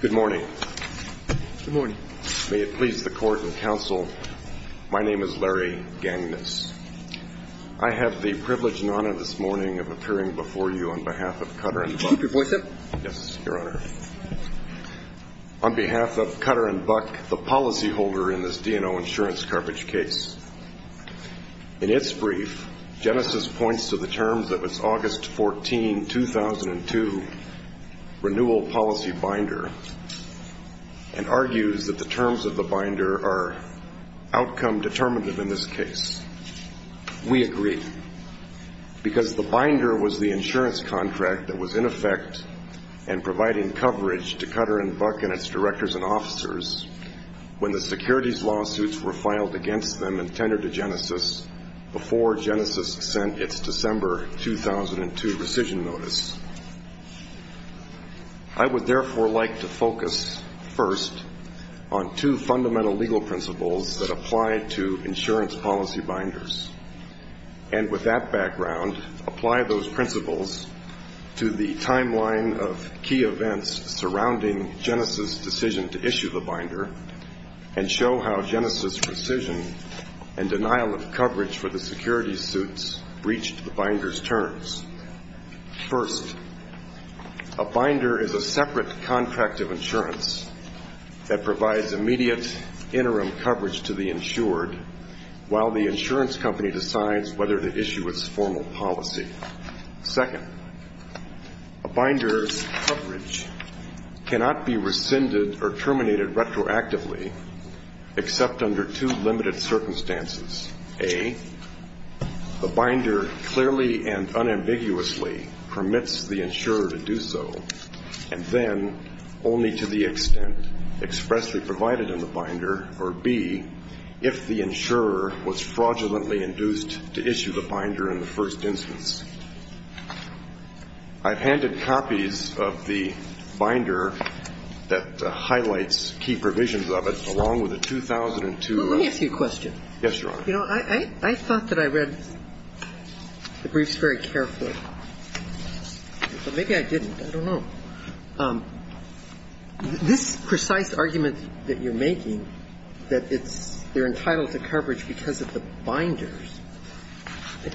Good morning. Good morning. May it please the Court and Counsel, my name is Larry Gangness. I have the privilege and honor this morning of appearing before you on behalf of Cutter and Buck. Keep your voice up. Yes, Your Honor. On behalf of Cutter and Buck, the policyholder in this D&O insurance carpet case. In its brief, Genesis points to the terms of its August 14, 2002 renewal policy binder and argues that the terms of the binder are outcome determinative in this case. We agree. Because the binder was the insurance contract that was in effect and providing coverage to Cutter and Buck and its directors and officers when the securities lawsuits were filed against them and tendered Genesis before Genesis sent its December 2002 rescission notice. I would therefore like to focus first on two fundamental legal principles that apply to insurance policy binders. And with that background, apply those principles to the timeline of key events surrounding Genesis' decision to issue the binder and show how Genesis' rescission and denial of coverage for the securities suits breached the binder's terms. First, a binder is a separate contract of insurance that provides immediate interim coverage to the insured while the insurance company decides whether to issue its formal policy. Second, a binder's coverage cannot be rescinded or terminated retroactively except under two limited circumstances. A, the binder clearly and unambiguously permits the insurer to do so and then only to the extent expressly provided in the binder, or B, if the insurer was fraudulently induced to issue the binder in the first instance. I've handed copies of the binder that highlights key provisions of it, along with the 2002 rescission notice. Let me ask you a question. Yes, Your Honor. You know, I thought that I read the briefs very carefully, but maybe I didn't. I don't know. This precise argument that you're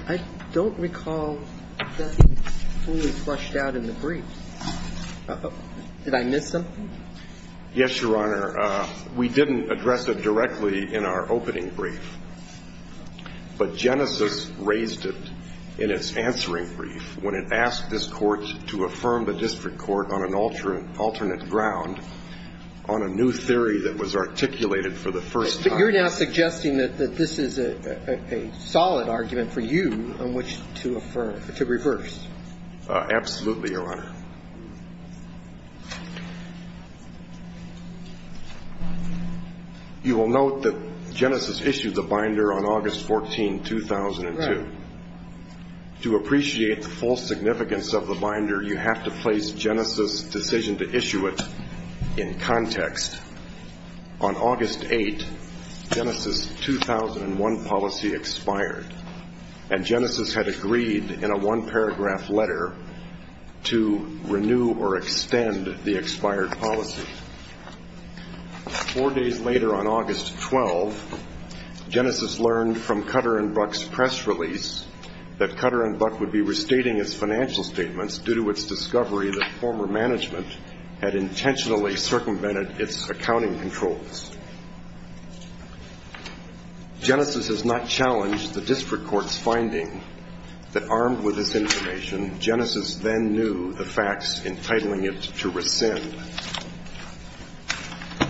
I don't recall that being fully flushed out in the briefs. Did I miss something? Yes, Your Honor. We didn't address it directly in our opening brief, but Genesis raised it in its answering brief when it asked this Court to affirm the district court on an alternate ground on a new theory that was articulated for the first time. You're now suggesting that this is a solid argument for you on which to affirm, to reverse. Absolutely, Your Honor. You will note that Genesis issued the binder on August 14, 2002. Right. To appreciate the full significance of the binder, you have to place Genesis' decision to issue it in context. On August 8, Genesis' 2001 policy expired, and Genesis had agreed in a one-paragraph letter to renew or extend the expired policy. Four days later, on August 12, Genesis learned from Cutter and Buck's press release that Cutter and Buck would be having a meeting with the district court on a new theory that Cutter and Buck had intentionally circumvented its accounting controls. Genesis has not challenged the district court's finding that armed with this information, Genesis then knew the facts entitling it to rescind.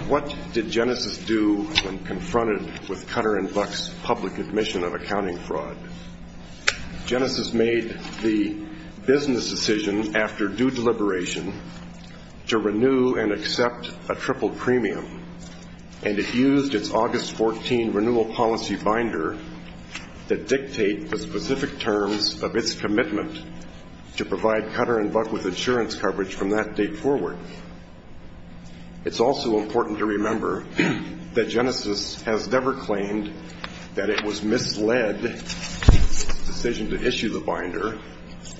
What did Genesis do when confronted with Cutter and Buck's public admission of accounting fraud? Genesis made the business decision, after due deliberation, that Cutter and Buck to renew and accept a triple premium, and it used its August 14 renewal policy binder to dictate the specific terms of its commitment to provide Cutter and Buck with insurance coverage from that date forward. It's also important to remember that Genesis has never claimed that it was misled in its decision to issue the binder,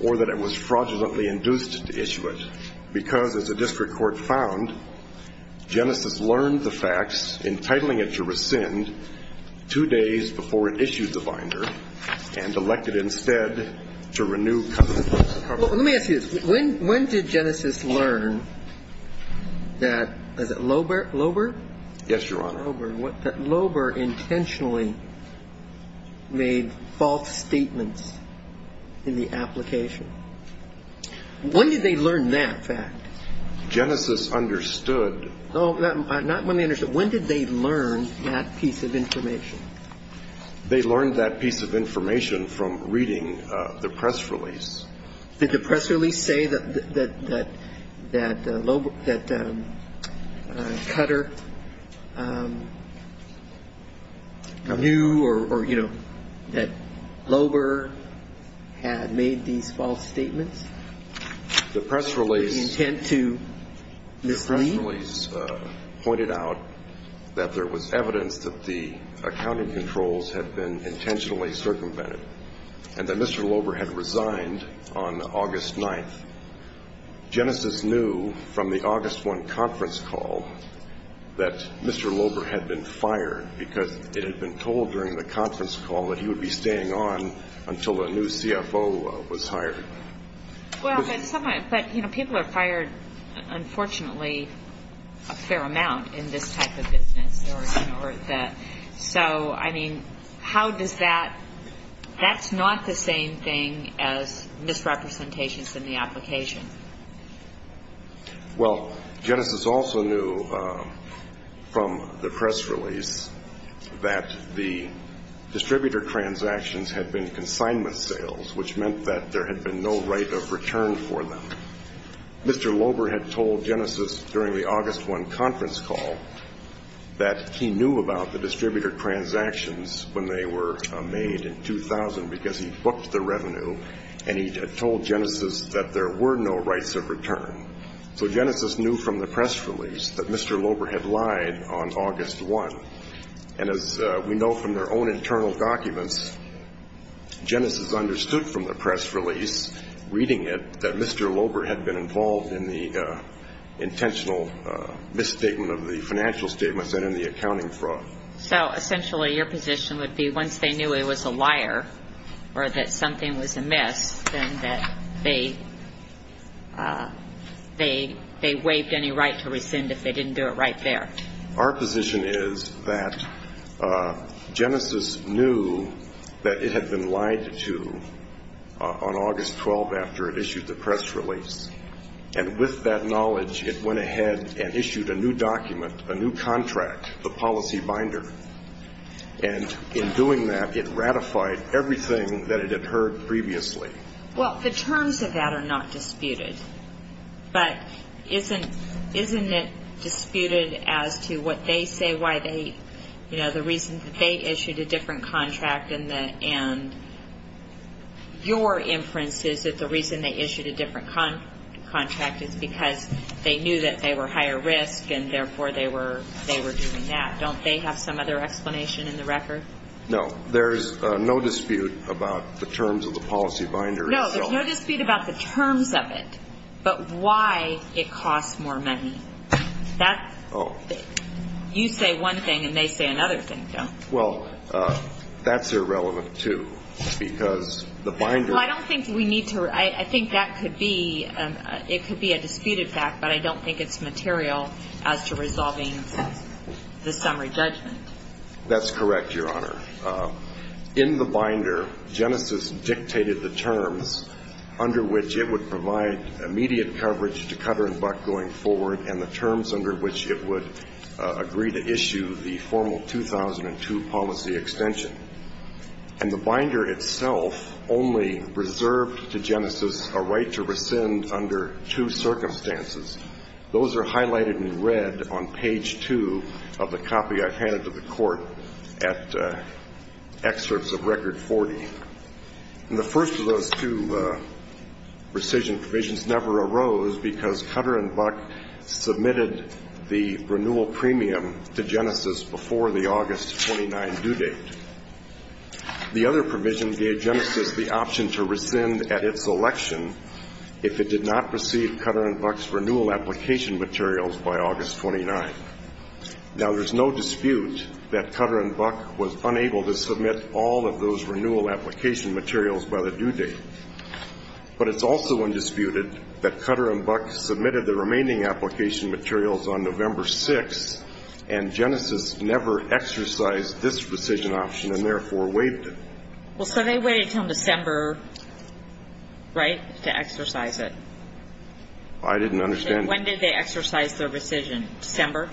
or that it was fraudulently induced to issue it, because, as the district court found, Genesis learned the facts entitling it to rescind two days before it issued the binder, and elected instead to renew Cutter and Buck's cover. Let me ask you this. When did Genesis learn that Loebert intentionally made false statements in the application? When did they learn that fact? Genesis understood. Not when they understood. When did they learn that piece of information? They learned that piece of information from reading the press release. Did the press release say that Cutter knew or, you know, that Loebert had made these false statements with the intent to mislead? The press release pointed out that there was evidence that the accounting controls had been intentionally circumvented, and that Mr. Loebert had resigned on August 9th. Genesis knew from the August 1 conference call that Mr. Loebert had been fired, because it had been told during the conference call that he would be staying on until a new CFO was hired. But, you know, people are fired, unfortunately, a fair amount in this type of business. So, I mean, how does that that's not the same thing as misrepresentations in the application. Well, Genesis also knew from the press release that the distributor transactions had been consignment sales, which meant that there had been no right of return for them. Mr. Loebert had told Genesis during the August 1 conference call that he knew about the distributor transactions when they were made in 2000, because he booked the revenue, and he had told Genesis that there were no rights of return. So Genesis knew from the press release that Mr. Loebert had lied on August 1. And as we know from their own internal documents, Genesis understood from the press release, reading it, that Mr. Loebert had been involved in the intentional misstatement of the financial statements and in the accounting fraud. So, essentially, your position would be once they knew it was a liar or that something was amiss, then that they waived any right to rescind if they didn't do it right there. Our position is that Genesis knew that it had been lied to on August 12 after it issued the press release. And with that knowledge, it went ahead and issued a new document, a new contract, the policy binder. And in doing that, it ratified everything that it had heard previously. Well, the terms of that are not disputed. But isn't it disputed as to what they say why they, you know, the reason that they issued a different contract and your inference is that the reason they issued a different contract is because they knew that they were higher risk and, therefore, they were doing that. Don't they have some other explanation in the record? No. There's no dispute about the terms of the policy binder. No, there's no dispute about the terms of it, but why it costs more money. You say one thing and they say another thing, don't they? Well, that's irrelevant, too, because the binder Well, I don't think we need to I think that could be, it could be a disputed fact, but I don't think it's material as to resolving the summary judgment. That's correct, Your Honor. In the binder, Genesis dictated the terms under which it would provide immediate coverage to Cutter and Buck going forward and the terms under which it would agree to issue the formal extension. And the binder itself only reserved to Genesis a right to rescind under two circumstances. Those are highlighted in red on page two of the copy I handed to the court at excerpts of Record 40. And the first of those two rescission provisions never arose because Cutter and Buck submitted the renewal premium to Genesis before the August 29 due date. The other provision gave Genesis the option to rescind at its election if it did not receive Cutter and Buck's renewal application materials by August 29. Now, there's no dispute that Cutter and Buck was unable to submit all of those renewal application materials by the due date. But it's also undisputed that Cutter and Buck submitted the remaining application materials on November 6, and Genesis exercised this rescission option and therefore waived it. Well, so they waited until December, right, to exercise it? I didn't understand that. When did they exercise their rescission? December?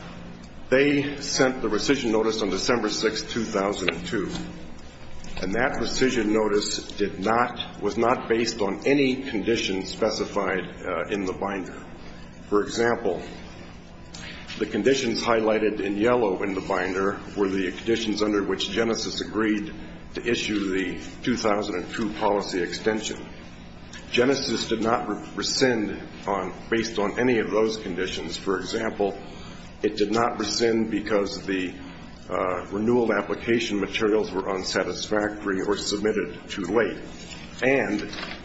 They sent the rescission notice on December 6, 2002. And that rescission notice was not based on any condition specified in the binder. For example, the conditions highlighted in yellow in the binder were the conditions under which Genesis agreed to issue the 2002 policy extension. Genesis did not rescind based on any of those conditions. For example, it did not rescind because the renewal application materials were available.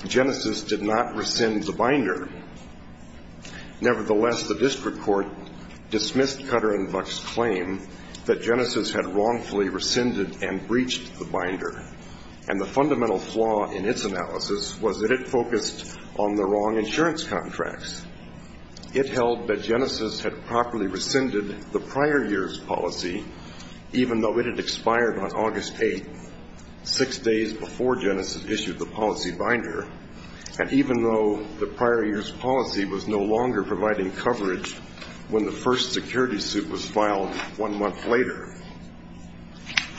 Genesis did not rescind the binder. Nevertheless, the district court dismissed Cutter and Buck's claim that Genesis had wrongfully rescinded and breached the binder. And the fundamental flaw in its analysis was that it focused on the wrong insurance contracts. It held that Genesis had properly rescinded the prior year's policy, even though it had expired on August 8, six days before Genesis issued the policy binder. And even though the prior year's policy was no longer providing coverage when the first security suit was filed one month later.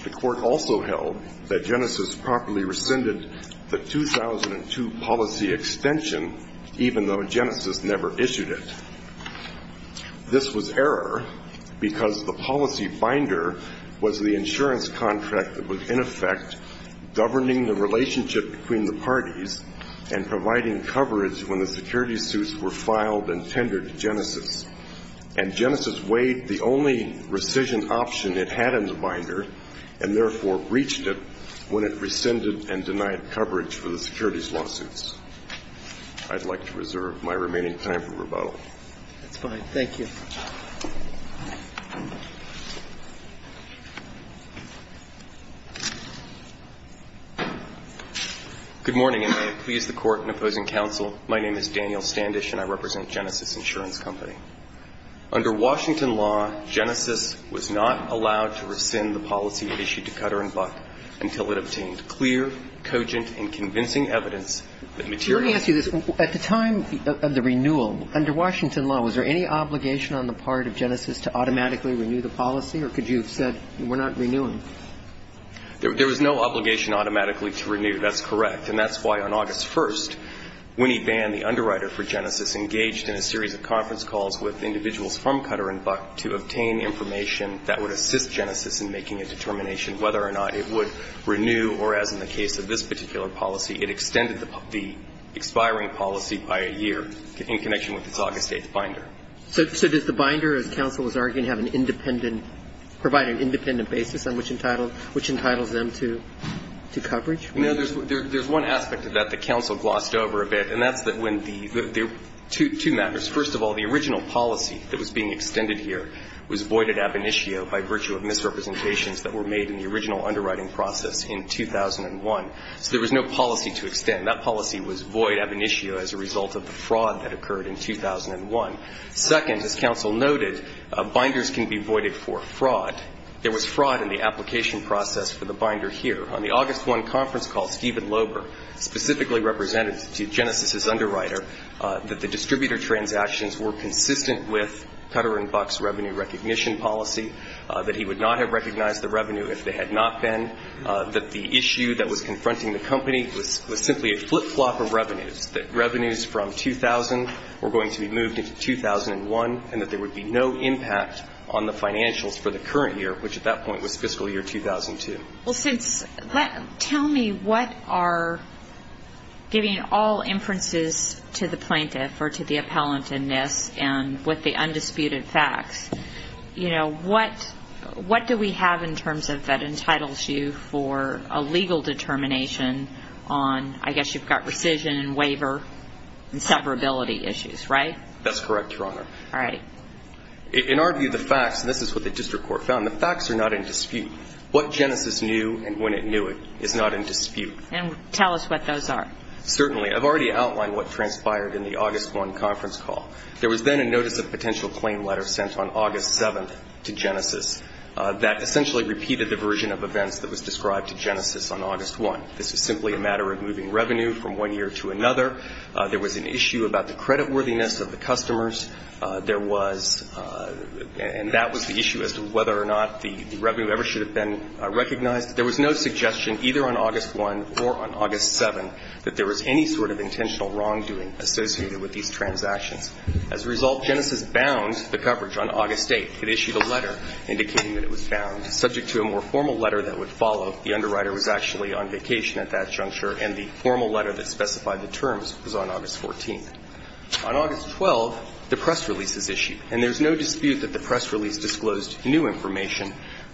The court also held that Genesis properly rescinded the 2002 policy extension, even though Genesis never issued it. This was error because the policy binder was the insurance contract that was, in effect, governing the policy and providing coverage when the security suits were filed and tendered to Genesis. And Genesis weighed the only rescission option it had in the binder and, therefore, breached it when it rescinded and denied coverage for the securities lawsuits. I'd like to reserve my remaining time for rebuttal. That's fine. Thank you. Standish, and I represent Genesis Insurance Company. Under Washington law, Genesis was not allowed to rescind the policy issued to Cutter and Buck until it obtained clear, cogent, and convincing evidence that materialized. Let me ask you this. At the time of the renewal, under Washington law, was there any clear, cogent, and convincing evidence that materialized? Was there any obligation on the part of Genesis to automatically renew the policy, or could you have said, we're not renewing? There was no obligation automatically to renew. That's correct. And that's why on August 1st, when he banned the underwriter for Genesis, engaged in a series of conference calls with individuals from Cutter and Buck to obtain information that would assist Genesis in making a determination whether or not it would renew or, as in the case of this particular policy, it extended the expiring policy by a year in connection with its August 8th binder. So does the binder, as counsel was arguing, have an independent – provide an independent basis on which entitled – which entitles them to coverage? No. There's one aspect of that that counsel glossed over a bit, and that's that when the – there are two matters. First of all, the original policy that was being extended here was voided ab initio by virtue of misrepresentations that were made in the original void ab initio as a result of the fraud that occurred in 2001. Second, as counsel noted, binders can be voided for fraud. There was fraud in the application process for the binder here. On the August 1 conference call, Steven Loeber specifically represented to Genesis's underwriter that the distributor transactions were consistent with Cutter and Buck's revenue recognition policy, that he would not have recognized the revenue if they had not been, that the issue that was confronting the company was simply a flip-flop of revenues, that revenues from 2000 were going to be moved into 2001, and that there would be no impact on the financials for the current year, which at that point was fiscal year 2002. Well, since – tell me what are – giving all inferences to the plaintiff or to the appellant in this and with the undisputed facts, you know, what – what do we have in terms of that entitles you for a legal determination on – I guess you've got rescission and waiver and severability issues, right? That's correct, Your Honor. All right. In our view, the facts – and this is what the district court found – the facts are not in dispute. What Genesis knew and when it knew it is not in dispute. And tell us what those are. Certainly. I've already outlined what transpired in the August 1 conference call. There was then a notice of potential claim letter sent on August 7 to Genesis that essentially repeated the version of events that was described to Genesis on August 1. This was simply a matter of moving revenue from one year to another. There was an issue about the creditworthiness of the customers. There was – and that was the issue as to whether or not the revenue ever should have been recognized. There was no suggestion either on August 1 or on August 7 that there was any sort of intentional wrongdoing associated with these transactions. As a result, Genesis bound the coverage on August 8. It issued a letter indicating that it was bound, subject to a more formal letter that would follow. The underwriter was actually on vacation at that juncture, and the formal letter that specified the terms was on August 14. On August 12, the press release is issued. And there's no dispute that the press release disclosed new information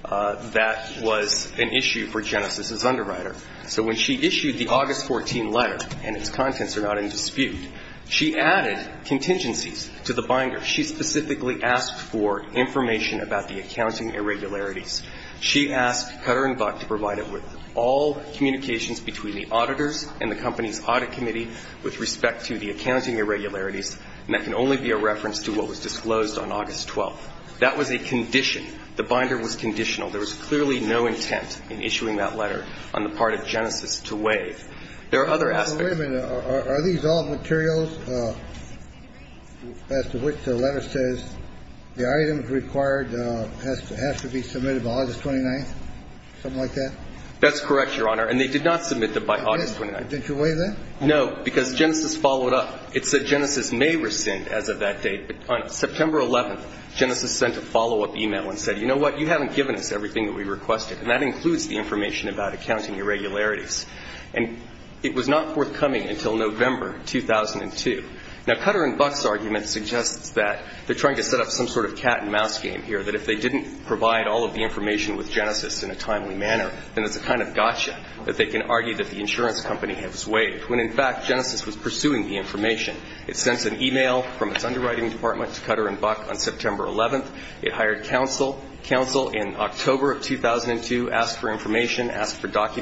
that was an issue for Genesis's underwriter. So when she issued the August 14 letter, and its contents are not in dispute, she added contingencies to the binder. She specifically asked for information about the accounting irregularities. She asked Cutter and Buck to provide it with all communications between the auditors and the company's audit committee with respect to the accounting irregularities, and that can only be a reference to what was disclosed on August 12. That was a condition. The binder was conditional. There was clearly no intent in issuing that letter on the part of Genesis to waive. There are other aspects. Wait a minute. Are these all materials as to which the letter says the item required has to be submitted by August 29th, something like that? That's correct, Your Honor. And they did not submit them by August 29th. Didn't you waive that? No, because Genesis followed up. It said Genesis may rescind as of that date. But on September 11th, Genesis sent a follow-up e-mail and said, you know what, you haven't given us everything that we requested, and that includes the information about accounting irregularities. And it was not forthcoming until November 2002. Now, Cutter and Buck's argument suggests that they're trying to set up some sort of cat-and-mouse game here, that if they didn't provide all of the information with Genesis in a timely manner, then it's a kind of gotcha that they can argue that the insurance company has waived, when, in fact, Genesis was pursuing the information. It sends an e-mail from its underwriting department to Cutter and Buck on September 11th.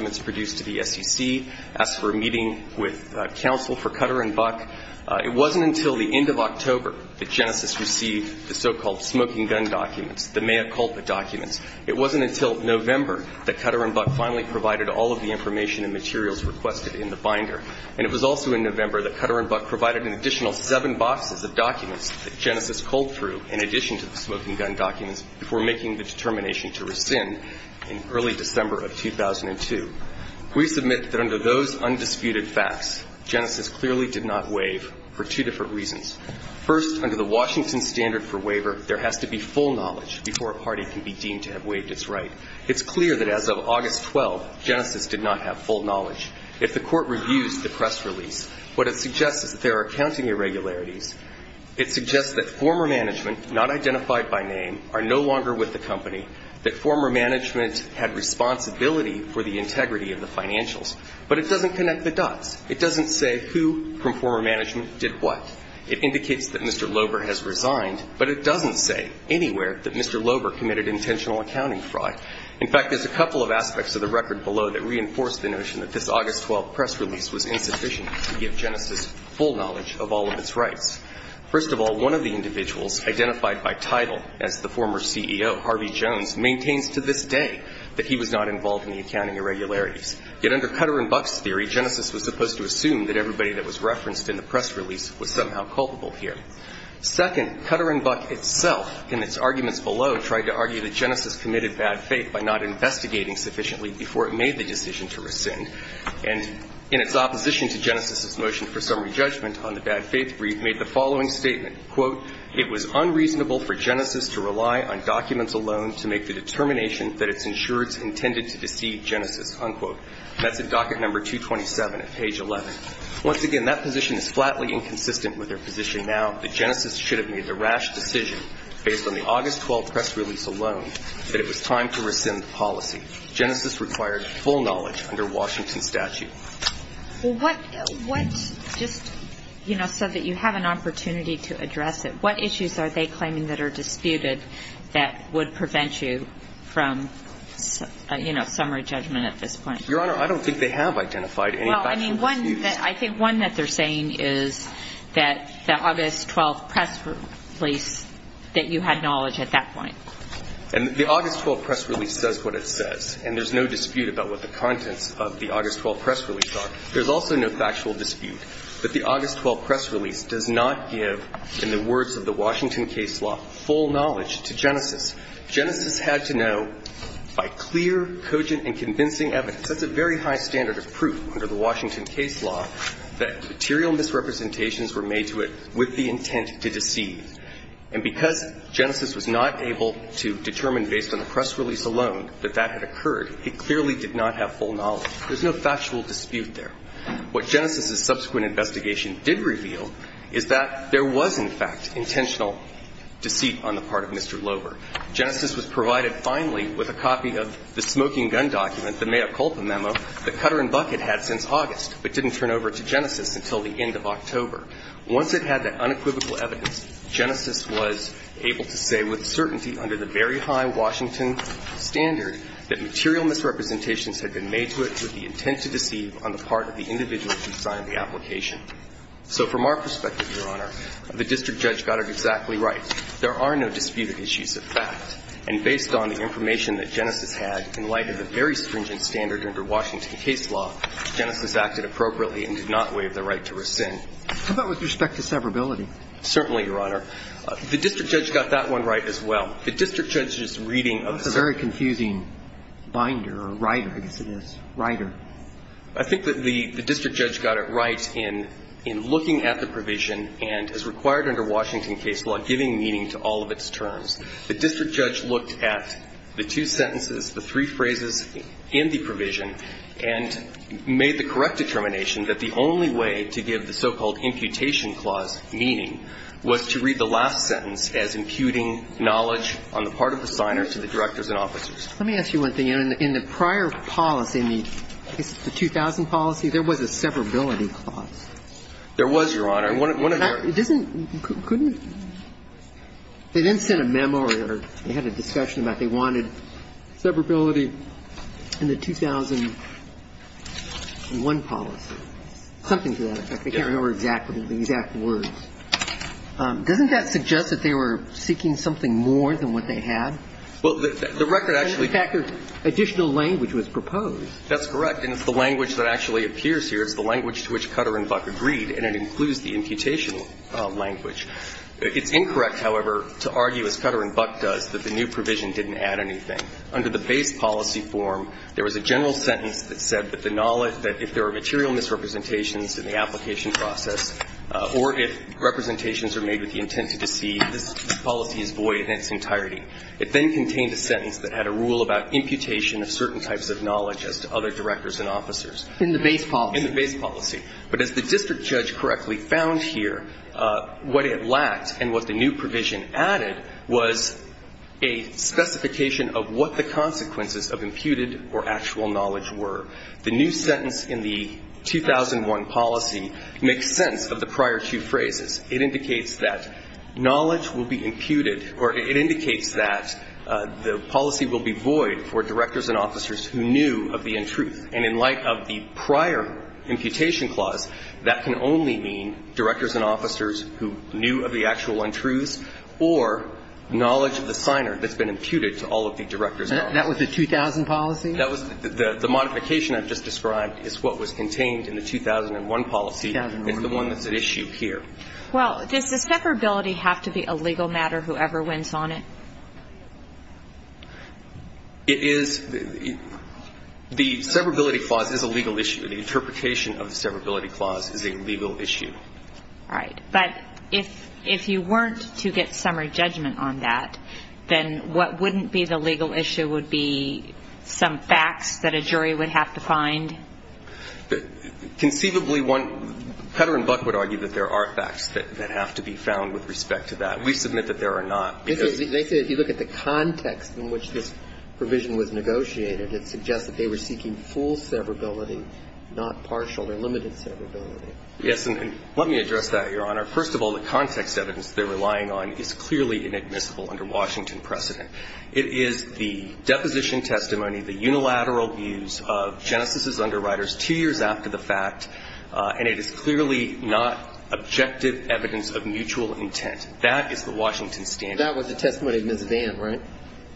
It's produced to the SEC, asks for a meeting with counsel for Cutter and Buck. It wasn't until the end of October that Genesis received the so-called smoking gun documents, the mea culpa documents. It wasn't until November that Cutter and Buck finally provided all of the information and materials requested in the binder. And it was also in November that Cutter and Buck provided an additional seven boxes of documents that Genesis culled through in addition to the smoking gun documents before making the determination to rescind in early December of 2002. We submit that under those undisputed facts, Genesis clearly did not waive for two different reasons. First, under the Washington standard for waiver, there has to be full knowledge before a party can be deemed to have waived its right. It's clear that as of August 12th, Genesis did not have full knowledge. If the Court reviews the press release, what it suggests is that there are accounting irregularities. It suggests that former management, not identified by name, are no longer with the financials, but it doesn't connect the dots. It doesn't say who from former management did what. It indicates that Mr. Loeber has resigned, but it doesn't say anywhere that Mr. Loeber committed intentional accounting fraud. In fact, there's a couple of aspects of the record below that reinforce the notion that this August 12th press release was insufficient to give Genesis full knowledge of all of its rights. First of all, one of the individuals identified by title as the former CEO, Harvey Jones, maintains to this day that he was not involved in the accounting irregularities. Yet under Cutter and Buck's theory, Genesis was supposed to assume that everybody that was referenced in the press release was somehow culpable here. Second, Cutter and Buck itself, in its arguments below, tried to argue that Genesis committed bad faith by not investigating sufficiently before it made the decision to rescind. And in its opposition to Genesis's motion for summary judgment on the bad faith brief, made the following statement, quote, it was unreasonable for Genesis to rely on documents alone to make the determination that its insurers intended to deceive Genesis, unquote. That's at docket number 227 at page 11. Once again, that position is flatly inconsistent with their position now that Genesis should have made the rash decision based on the August 12th press release alone that it was time to rescind the policy. Genesis required full knowledge under Washington's statute. Well, what just, you know, so that you have an opportunity to address it, what issues are they claiming that are disputed that would prevent you from, you know, summary judgment at this point? Your Honor, I don't think they have identified any factual disputes. Well, I mean, one that I think one that they're saying is that the August 12th press release, that you had knowledge at that point. And the August 12th press release says what it says. And there's no dispute about what the contents of the August 12th press release are. There's also no factual dispute that the August 12th press release does not give, in the words of the Washington case law, full knowledge to Genesis. Genesis had to know by clear, cogent, and convincing evidence. That's a very high standard of proof under the Washington case law that material misrepresentations were made to it with the intent to deceive. And because Genesis was not able to determine based on the press release alone that that had occurred, it clearly did not have full knowledge. There's no factual dispute there. What Genesis's subsequent investigation did reveal is that there was, in fact, intentional deceit on the part of Mr. Loeber. Genesis was provided finally with a copy of the smoking gun document, the mea culpa memo, that Cutter and Buck had had since August, but didn't turn over to Genesis until the end of October. Once it had that unequivocal evidence, Genesis was able to say with certainty under the very high Washington standard that material misrepresentations had been made to it with the intent to deceive on the part of the individual who signed the application. So from our perspective, Your Honor, the district judge got it exactly right. There are no disputed issues of fact. And based on the information that Genesis had in light of the very stringent standard under Washington case law, Genesis acted appropriately and did not waive the right to rescind. How about with respect to severability? Certainly, Your Honor. The district judge got that one right as well. The district judge's reading of the statute. That's a very confusing binder or writer, I guess it is. Writer. I think that the district judge got it right in looking at the provision and, as required under Washington case law, giving meaning to all of its terms. The district judge looked at the two sentences, the three phrases in the provision and made the correct determination that the only way to give the so-called imputation clause meaning was to read the last sentence as imputing knowledge on the part of the signer to the directors and officers. Let me ask you one thing. In the prior policy, in the case of the 2000 policy, there was a severability clause. There was, Your Honor. And one of the others. It doesn't – couldn't – they didn't send a memo or they had a discussion about they wanted severability in the 2001 policy. Something to that effect. I can't remember exactly the exact words. Doesn't that suggest that they were seeking something more than what they had? Well, the record actually – In fact, additional language was proposed. That's correct. And it's the language that actually appears here. It's the language to which Cutter and Buck agreed, and it includes the imputation language. It's incorrect, however, to argue, as Cutter and Buck does, that the new provision didn't add anything. Under the base policy form, there was a general sentence that said that the knowledge that if there are material misrepresentations in the application process or if representations are made with the intent to deceive, this policy is void in its entirety. It then contained a sentence that had a rule about imputation of certain types of knowledge as to other directors and officers. In the base policy. In the base policy. But as the district judge correctly found here, what it lacked and what the new provision added was a specification of what the consequences of imputed or actual knowledge were. The new sentence in the 2001 policy makes sense of the prior two phrases. It indicates that knowledge will be imputed or it indicates that the policy will be void for directors and officers who knew of the untruth. And in light of the prior imputation clause, that can only mean directors and officers who knew of the actual untruths or knowledge of the signer that's been imputed to all of the directors and officers. That was the 2000 policy? The modification I've just described is what was contained in the 2001 policy. It's the one that's at issue here. Well, does this severability have to be a legal matter, whoever wins on it? It is. The severability clause is a legal issue. The interpretation of the severability clause is a legal issue. All right. But if you weren't to get summary judgment on that, then what wouldn't be the legal issue would be some facts that a jury would have to find? Conceivably, Petter and Buck would argue that there are facts that have to be found with respect to that. We submit that there are not. They say if you look at the context in which this provision was negotiated, it suggests that they were seeking full severability, not partial or limited severability. Yes, and let me address that, Your Honor. First of all, the context evidence they're relying on is clearly inadmissible under Washington precedent. It is the deposition testimony, the unilateral views of Genesis's underwriters two years after the fact, and it is clearly not objective evidence of mutual intent. That is the Washington standard. That was the testimony of Ms. Vann, right?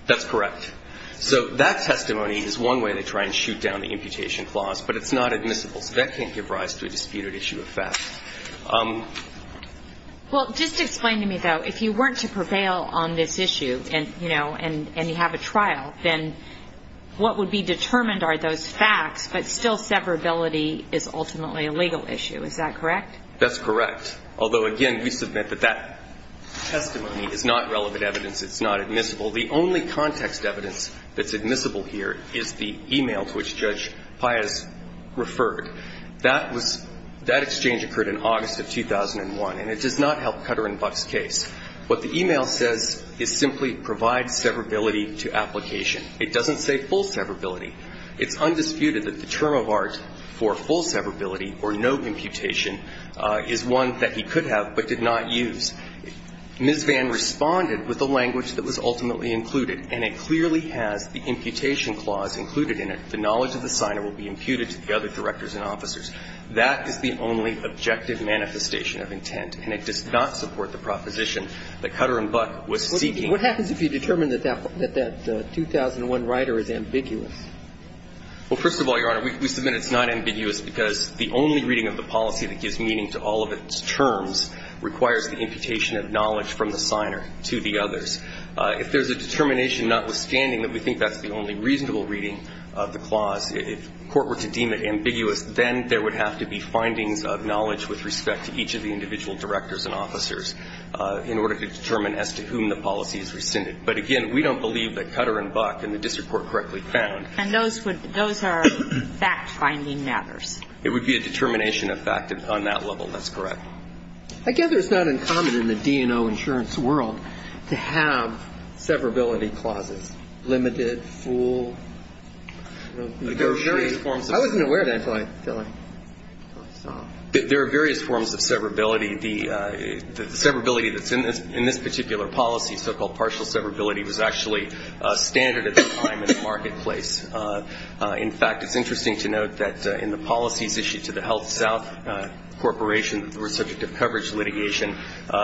That's correct. So that testimony is one way they try and shoot down the imputation clause, but it's not admissible. So that can't give rise to a disputed issue of facts. Well, just explain to me, though, if you weren't to prevail on this issue and, you know, and you have a trial, then what would be determined are those facts, but still severability is ultimately a legal issue. Is that correct? That's correct. Although, again, we submit that that testimony is not relevant evidence. It's not admissible. The only context evidence that's admissible here is the e-mail to which Judge Pius referred. That exchange occurred in August of 2001, and it does not help Kutter and Buck's case. What the e-mail says is simply provide severability to application. It doesn't say full severability. It's undisputed that the term of art for full severability or no imputation is one that he could have but did not use. Ms. Vann responded with a language that was ultimately included, and it clearly has the imputation clause included in it. The knowledge of the signer will be imputed to the other directors and officers. That is the only objective manifestation of intent, and it does not support the proposition that Kutter and Buck was seeking. What happens if you determine that that 2001 rider is ambiguous? Well, first of all, Your Honor, we submit it's not ambiguous because the only reading of the policy that gives meaning to all of its terms requires the imputation of knowledge from the signer to the others. If there's a determination notwithstanding that we think that's the only reasonable reading of the clause, if court were to deem it ambiguous, then there would have to be findings of knowledge with respect to each of the individual directors and officers in order to determine as to whom the policy is rescinded. But, again, we don't believe that Kutter and Buck and the district court correctly found. And those are fact-finding matters. It would be a determination of fact on that level. That's correct. I guess it's not uncommon in the D&O insurance world to have severability clauses, limited, full. I wasn't aware of that until I saw it. There are various forms of severability. The severability that's in this particular policy, so-called partial severability, was actually standard at the time in the marketplace. In fact, it's interesting to note that in the policies issued to the HealthSouth Corporation that were subject to coverage litigation,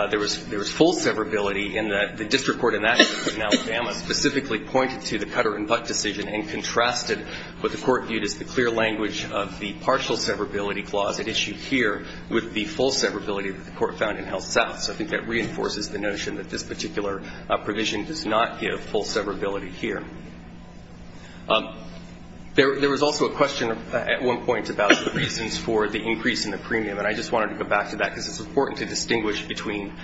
there was full severability in that the district court in Alabama specifically pointed to the Kutter and Buck decision and contrasted what the court viewed as the clear language of the partial severability clause at issue here with the full severability that the court found in HealthSouth. So I think that reinforces the notion that this particular provision does not give full severability here. There was also a question at one point about the reasons for the increase in the premium, and I just wanted to go back to that because it's important to distinguish between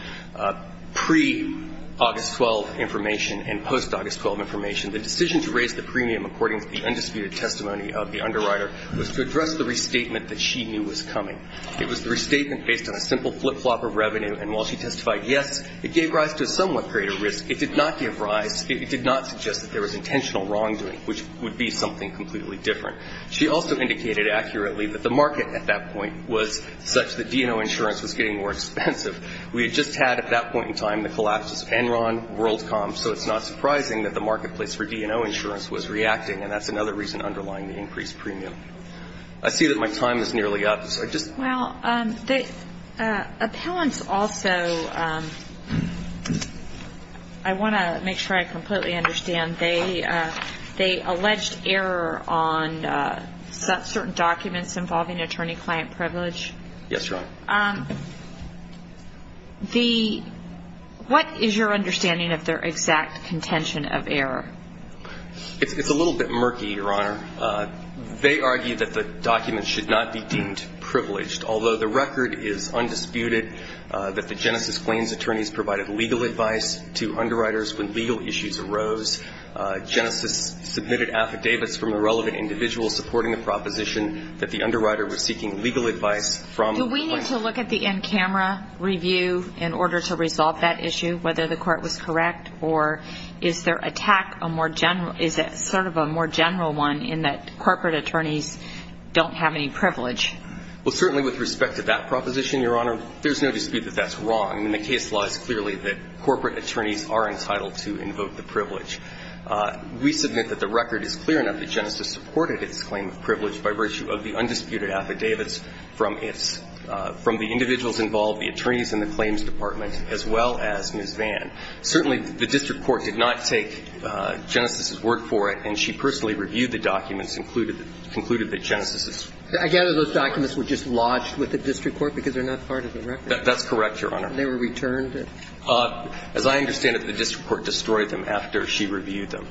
pre-August 12 information and post-August 12 information. The decision to raise the premium according to the undisputed testimony of the underwriter was to address the restatement that she knew was coming. It was the restatement based on a simple flip-flop of revenue, and while she testified yes, it gave rise to a somewhat greater risk. It did not give rise, it did not suggest that there was intentional wrongdoing, which would be something completely different. She also indicated accurately that the market at that point was such that D&O insurance was getting more expensive. We had just had at that point in time the collapses of Enron, WorldCom, so it's not surprising that the marketplace for D&O insurance was reacting, and that's another reason underlying the increased premium. I see that my time is nearly up, so I just ---- Well, the appellants also, I want to make sure I completely understand. They alleged error on certain documents involving attorney-client privilege. Yes, Your Honor. What is your understanding of their exact contention of error? It's a little bit murky, Your Honor. They argue that the documents should not be deemed privileged, although the record is undisputed that the Genesis Claims attorneys provided legal advice to underwriters when legal issues arose. Genesis submitted affidavits from the relevant individuals supporting the proposition that the underwriter was seeking legal advice from the claimants. Do we need to look at the in-camera review in order to resolve that issue, whether the court was correct, or is their attack a more general ---- is it sort of a more general one in that corporate attorneys don't have any privilege? Well, certainly with respect to that proposition, Your Honor, there's no dispute that that's wrong. I mean, the case law is clearly that corporate attorneys are entitled to invoke the privilege. We submit that the record is clear enough that Genesis supported its claim of from the individuals involved, the attorneys in the claims department, as well as Ms. Vann. Certainly, the district court did not take Genesis's work for it, and she personally reviewed the documents and concluded that Genesis is ---- I gather those documents were just lodged with the district court because they're not part of the record. That's correct, Your Honor. And they were returned? As I understand it, the district court destroyed them after she reviewed them.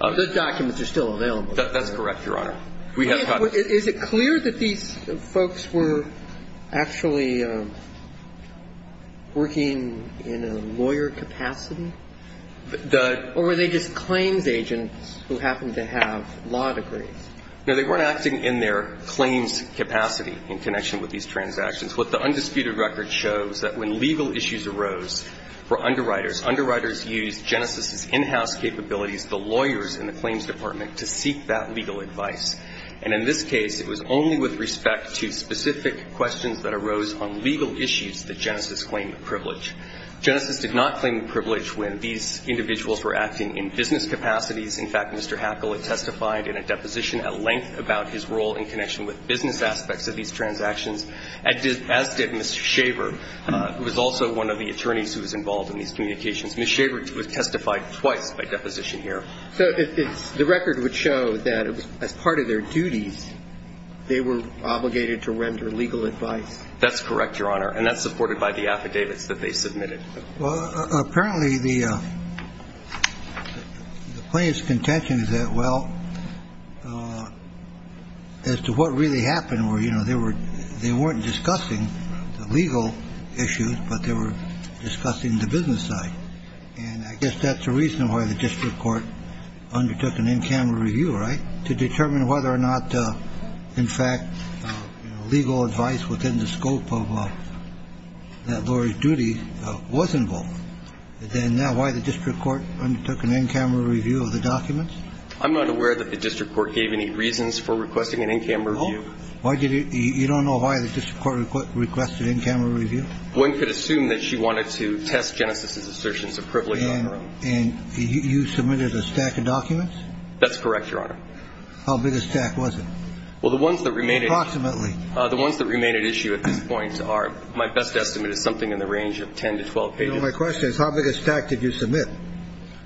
Those documents are still available. That's correct, Your Honor. Is it clear that these folks were actually working in a lawyer capacity? Or were they just claims agents who happened to have law degrees? No, they were acting in their claims capacity in connection with these transactions. What the undisputed record shows that when legal issues arose for underwriters, underwriters used Genesis's in-house capabilities, the lawyers in the claims department to seek that legal advice. And in this case, it was only with respect to specific questions that arose on legal issues that Genesis claimed the privilege. Genesis did not claim the privilege when these individuals were acting in business capacities. In fact, Mr. Hackle had testified in a deposition at length about his role in connection with business aspects of these transactions, as did Ms. Shaver, who was also one of the attorneys who was involved in these communications. Ms. Shaver was testified twice by deposition here. So the record would show that as part of their duties, they were obligated to render legal advice? That's correct, Your Honor. And that's supported by the affidavits that they submitted. Well, apparently the plaintiff's contention is that, well, as to what really happened where, you know, they weren't discussing the legal issues, but they were discussing the business side. And I guess that's the reason why the district court undertook an in-camera review, right? To determine whether or not, in fact, legal advice within the scope of that lawyer's duty was involved. Then why the district court undertook an in-camera review of the documents? I'm not aware that the district court gave any reasons for requesting an in-camera review. You don't know why the district court requested an in-camera review? One could assume that she wanted to test Genesis's assertions of privilege on her own. And you submitted a stack of documents? That's correct, Your Honor. How big a stack was it? Well, the ones that remain at issue at this point are, my best estimate is something in the range of 10 to 12 pages. So my question is, how big a stack did you submit?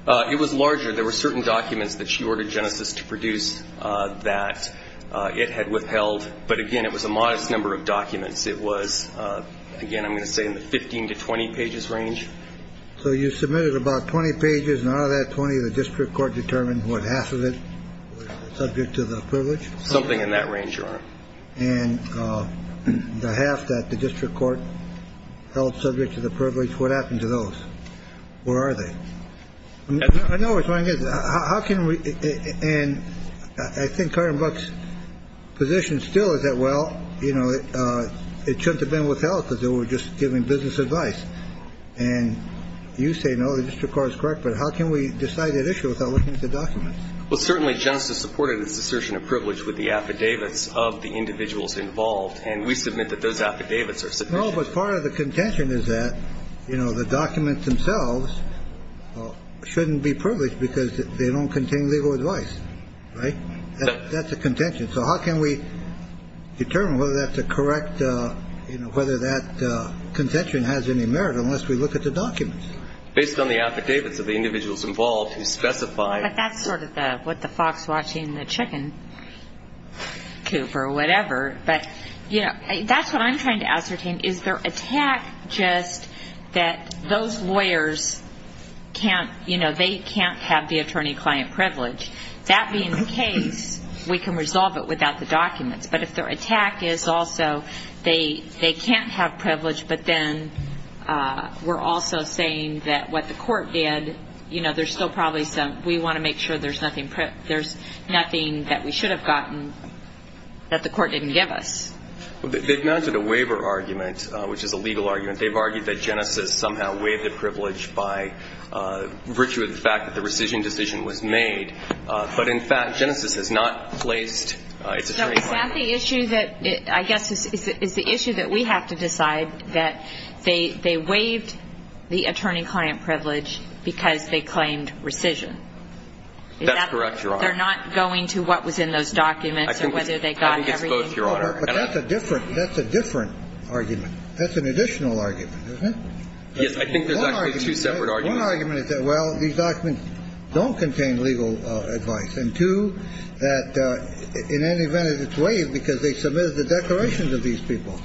It was larger. There were certain documents that she ordered Genesis to produce that it had withheld. But, again, it was a modest number of documents. It was, again, I'm going to say in the 15 to 20 pages range. So you submitted about 20 pages. And out of that 20, the district court determined, what, half of it was subject to the privilege? Something in that range, Your Honor. And the half that the district court held subject to the privilege, what happened to those? Where are they? I know what you're trying to get at. And I think Karen Buck's position still is that, well, you know, it shouldn't have been withheld because they were just giving business advice. And you say, no, the district court is correct. But how can we decide at issue without looking at the documents? Well, certainly Genesis supported this assertion of privilege with the affidavits of the individuals involved. And we submit that those affidavits are sufficient. The documents themselves shouldn't be privileged because they don't contain legal advice. Right? That's a contention. So how can we determine whether that's a correct, you know, whether that contention has any merit unless we look at the documents? Based on the affidavits of the individuals involved who specify. But that's sort of what the fox watching the chicken coop or whatever. But, you know, that's what I'm trying to ascertain. Is their attack just that those lawyers can't, you know, they can't have the attorney-client privilege? That being the case, we can resolve it without the documents. But if their attack is also they can't have privilege, but then we're also saying that what the court did, you know, there's still probably some, we want to make sure there's nothing that we should have gotten that the court didn't give us. They've mounted a waiver argument, which is a legal argument. They've argued that Genesis somehow waived the privilege by virtue of the fact that the rescission decision was made. But, in fact, Genesis has not placed its attorney-client. So is that the issue that I guess is the issue that we have to decide, that they waived the attorney-client privilege because they claimed rescission? That's correct, Your Honor. They're not going to what was in those documents or whether they got everything. That's a different argument. That's an additional argument, isn't it? Yes, I think there's actually two separate arguments. One argument is that, well, these documents don't contain legal advice. And two, that in any event, it's waived because they submitted the declarations of these people.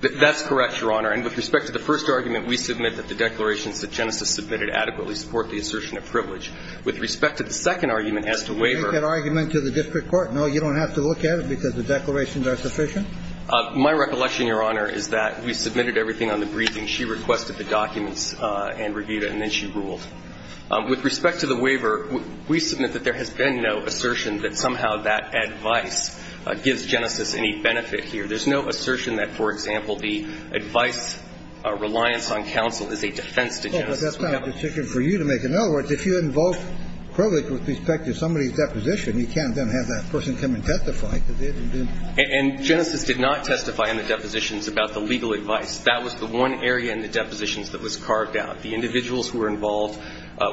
That's correct, Your Honor. And with respect to the first argument, we submit that the declarations that Genesis submitted adequately support the assertion of privilege. With respect to the second argument as to waiver. Can I make that argument to the district court? No, you don't have to look at it because the declarations are sufficient? My recollection, Your Honor, is that we submitted everything on the briefing. She requested the documents and reviewed it, and then she ruled. With respect to the waiver, we submit that there has been no assertion that somehow that advice gives Genesis any benefit here. There's no assertion that, for example, the advice reliance on counsel is a defense Well, but that's not a decision for you to make. In other words, if you involve privilege with respect to somebody's deposition, you can't then have that person come and testify. And Genesis did not testify in the depositions about the legal advice. That was the one area in the depositions that was carved out. The individuals who were involved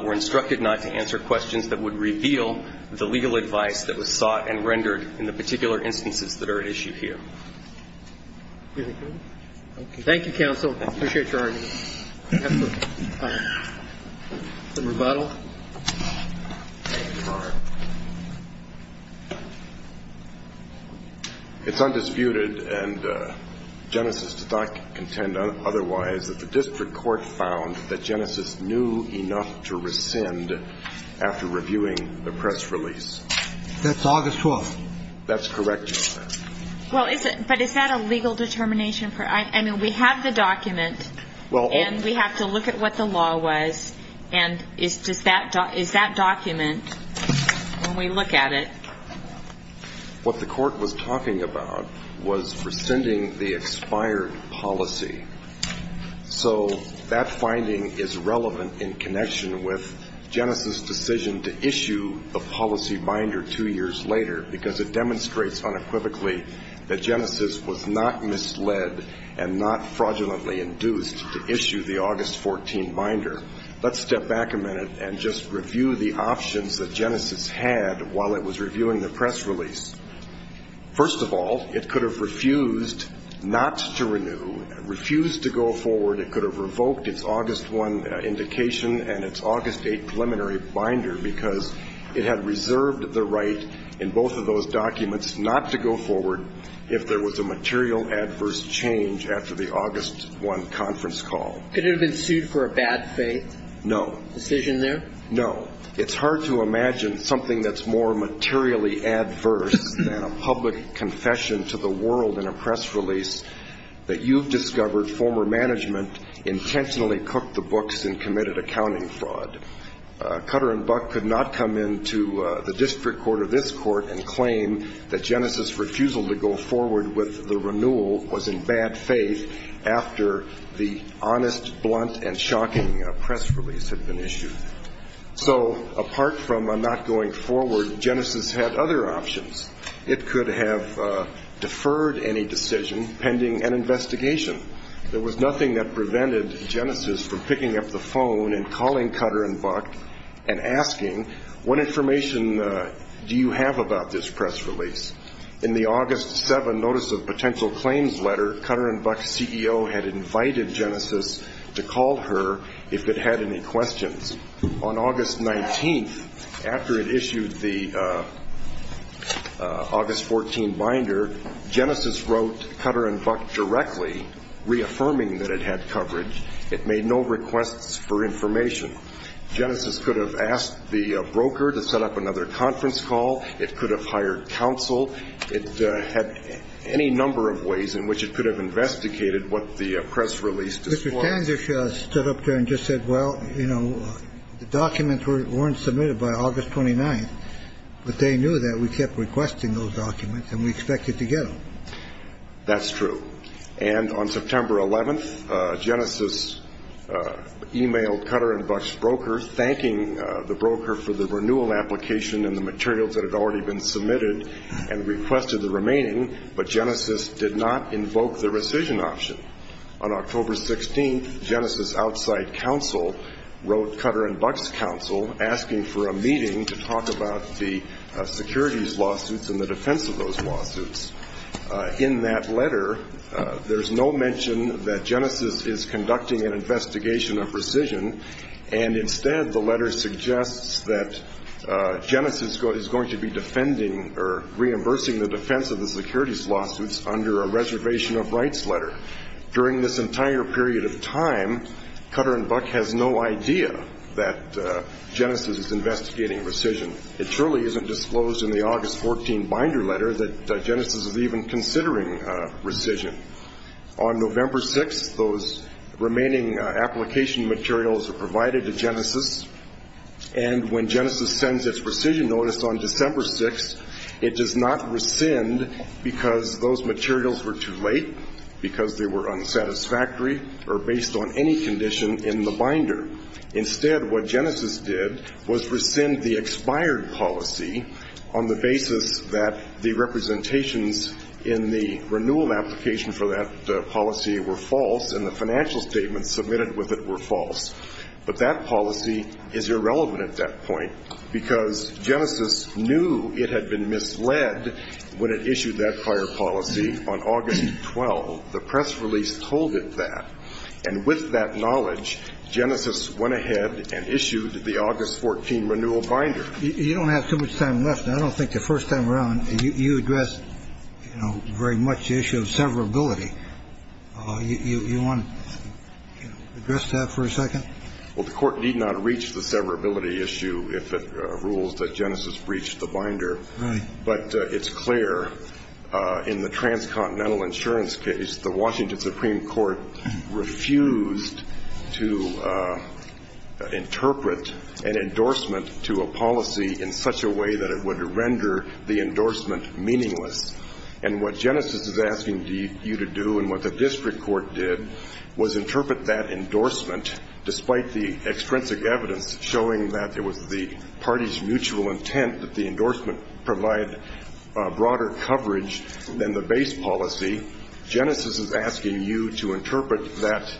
were instructed not to answer questions that would reveal the legal advice that was sought and rendered in the particular instances that are at issue here. Thank you, counsel. I appreciate your argument. It's undisputed, and Genesis did not contend otherwise, that the district court found that Genesis knew enough to rescind after reviewing the press release. That's August 12th. That's correct, Your Honor. Well, but is that a legal determination? I mean, we have the document, and we have to look at what the law was. And is that document, when we look at it? What the court was talking about was rescinding the expired policy. So that finding is relevant in connection with Genesis' decision to issue the policy binder two years later, because it demonstrates unequivocally that Genesis was not misled and not fraudulently induced to issue the August 14 binder. Let's step back a minute and just review the options that Genesis had while it was reviewing the press release. First of all, it could have refused not to renew, refused to go forward. It could have revoked its August 1 indication and its August 8 preliminary binder, because it had reserved the right in both of those documents not to go forward if there was a material adverse change after the August 1 conference call. Could it have been sued for a bad faith? No. Decision there? No. It's hard to imagine something that's more materially adverse than a public confession to the world in a press release that you've discovered former management intentionally cooked the books and committed accounting fraud. Cutter and Buck could not come into the district court or this court and claim that Genesis' refusal to go forward with the renewal was in bad faith after the honest, blunt, and shocking press release had been issued. So apart from not going forward, Genesis had other options. It could have deferred any decision pending an investigation. There was nothing that prevented Genesis from picking up the phone and calling Cutter and Buck and asking, what information do you have about this press release? In the August 7 notice of potential claims letter, Cutter and Buck's CEO had invited Genesis to call her if it had any questions. On August 19, after it issued the August 14 binder, Genesis wrote Cutter and Buck directly reaffirming that it had coverage. It made no requests for information. Genesis could have asked the broker to set up another conference call. It could have hired counsel. It had any number of ways in which it could have investigated what the press release disclosed. Mr. Tandish stood up there and just said, well, you know, the documents weren't submitted by August 29, but they knew that we kept requesting those documents and we expected to get them. That's true. And on September 11th, Genesis e-mailed Cutter and Buck's broker thanking the broker for the renewal application and the materials that had already been submitted and requested the remaining. But Genesis did not invoke the rescission option. On October 16th, Genesis' outside counsel wrote Cutter and Buck's counsel asking for a meeting to talk about the securities lawsuits and the defense of those lawsuits. In that letter, there's no mention that Genesis is conducting an investigation of rescission, and instead the letter suggests that Genesis is going to be defending or reimbursing the defense of the securities lawsuits under a reservation of rights letter. During this entire period of time, Cutter and Buck has no idea that Genesis is investigating rescission. It surely isn't disclosed in the August 14 binder letter that Genesis is even considering rescission. On November 6th, those remaining application materials are provided to Genesis, and when Genesis sends its rescission notice on December 6th, it does not rescind because those materials were too late, because they were unsatisfactory, or based on any condition in the binder. Instead, what Genesis did was rescind the expired policy on the basis that the representations in the renewal application for that policy were false and the financial statements submitted with it were false. But that policy is irrelevant at that point because Genesis knew it had been misled when it issued that prior policy on August 12th. The press release told it that. And with that knowledge, Genesis went ahead and issued the August 14 renewal binder. You don't have too much time left. I don't think the first time around you addressed, you know, very much the issue of severability. You want to address that for a second? Well, the Court need not reach the severability issue if it rules that Genesis breached the binder. Right. But it's clear in the transcontinental insurance case, the Washington Supreme Court refused to interpret an endorsement to a policy in such a way that it would render the endorsement meaningless. And what Genesis is asking you to do and what the district court did was interpret that endorsement, despite the extrinsic evidence showing that it was the party's mutual intent that the endorsement provide broader coverage than the base policy. Genesis is asking you to interpret that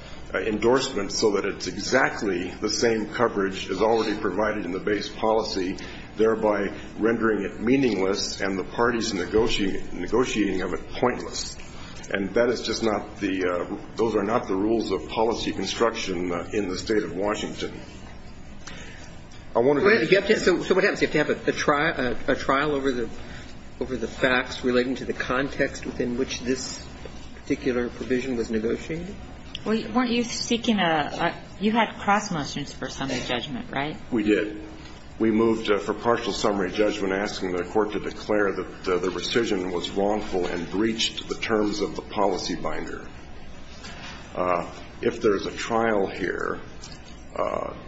endorsement so that it's exactly the same coverage as already provided in the base policy, thereby rendering it meaningless and the party's negotiating of it pointless. And that is just not the – those are not the rules of policy construction in the State of Washington. So what happens? You have to have a trial over the facts relating to the context within which this particular provision was negotiated? Well, weren't you seeking a – you had cross motions for summary judgment, right? We did. We moved for partial summary judgment, asking the court to declare that the rescission was wrongful and breached the terms of the policy binder. If there's a trial here,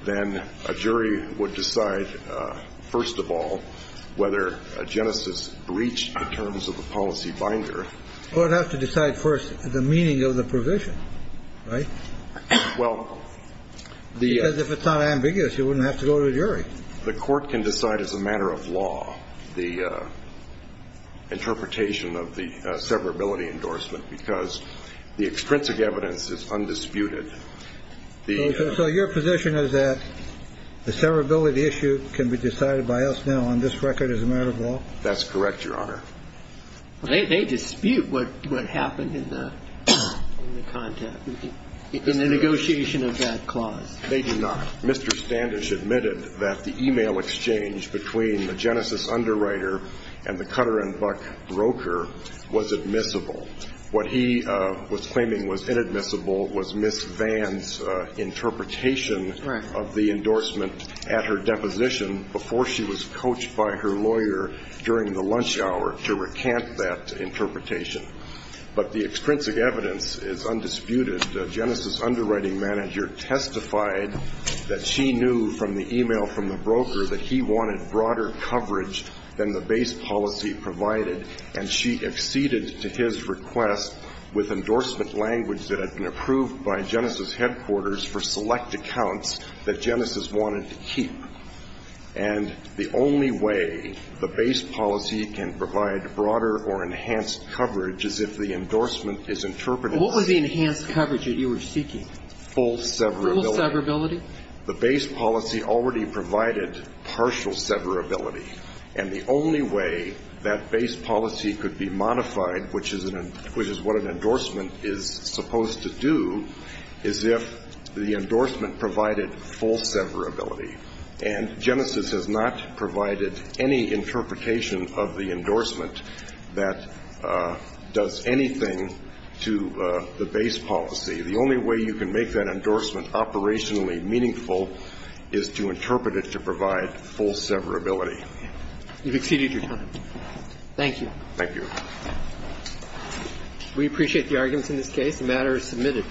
then a jury would decide, first of all, whether Genesis breached the terms of the policy binder. Well, it would have to decide first the meaning of the provision, right? Well, the – the court can decide as a matter of law the interpretation of the severability endorsement because the extrinsic evidence is undisputed. So your position is that the severability issue can be decided by us now on this record as a matter of law? That's correct, Your Honor. They dispute what happened in the context, in the negotiation of that clause. They do not. Mr. Standish admitted that the e-mail exchange between the Genesis underwriter and the Cutter and Buck broker was admissible. What he was claiming was inadmissible was Ms. Vann's interpretation of the endorsement at her deposition before she was coached by her lawyer during the lunch hour to recant that interpretation. But the extrinsic evidence is undisputed. Ms. Vann, who was the Genesis underwriting manager, testified that she knew from the e-mail from the broker that he wanted broader coverage than the base policy provided, and she acceded to his request with endorsement language that had been approved by Genesis headquarters for select accounts that Genesis wanted to keep. And the only way the base policy can provide broader or enhanced coverage is if the endorsement is interpreted as full severability. Full severability? The base policy already provided partial severability. And the only way that base policy could be modified, which is what an endorsement is supposed to do, is if the endorsement provided full severability. And Genesis has not provided any interpretation of the endorsement that does anything to the base policy. The only way you can make that endorsement operationally meaningful is to interpret it to provide full severability. You've exceeded your time. Thank you. Thank you. We appreciate the arguments in this case. The matter is submitted.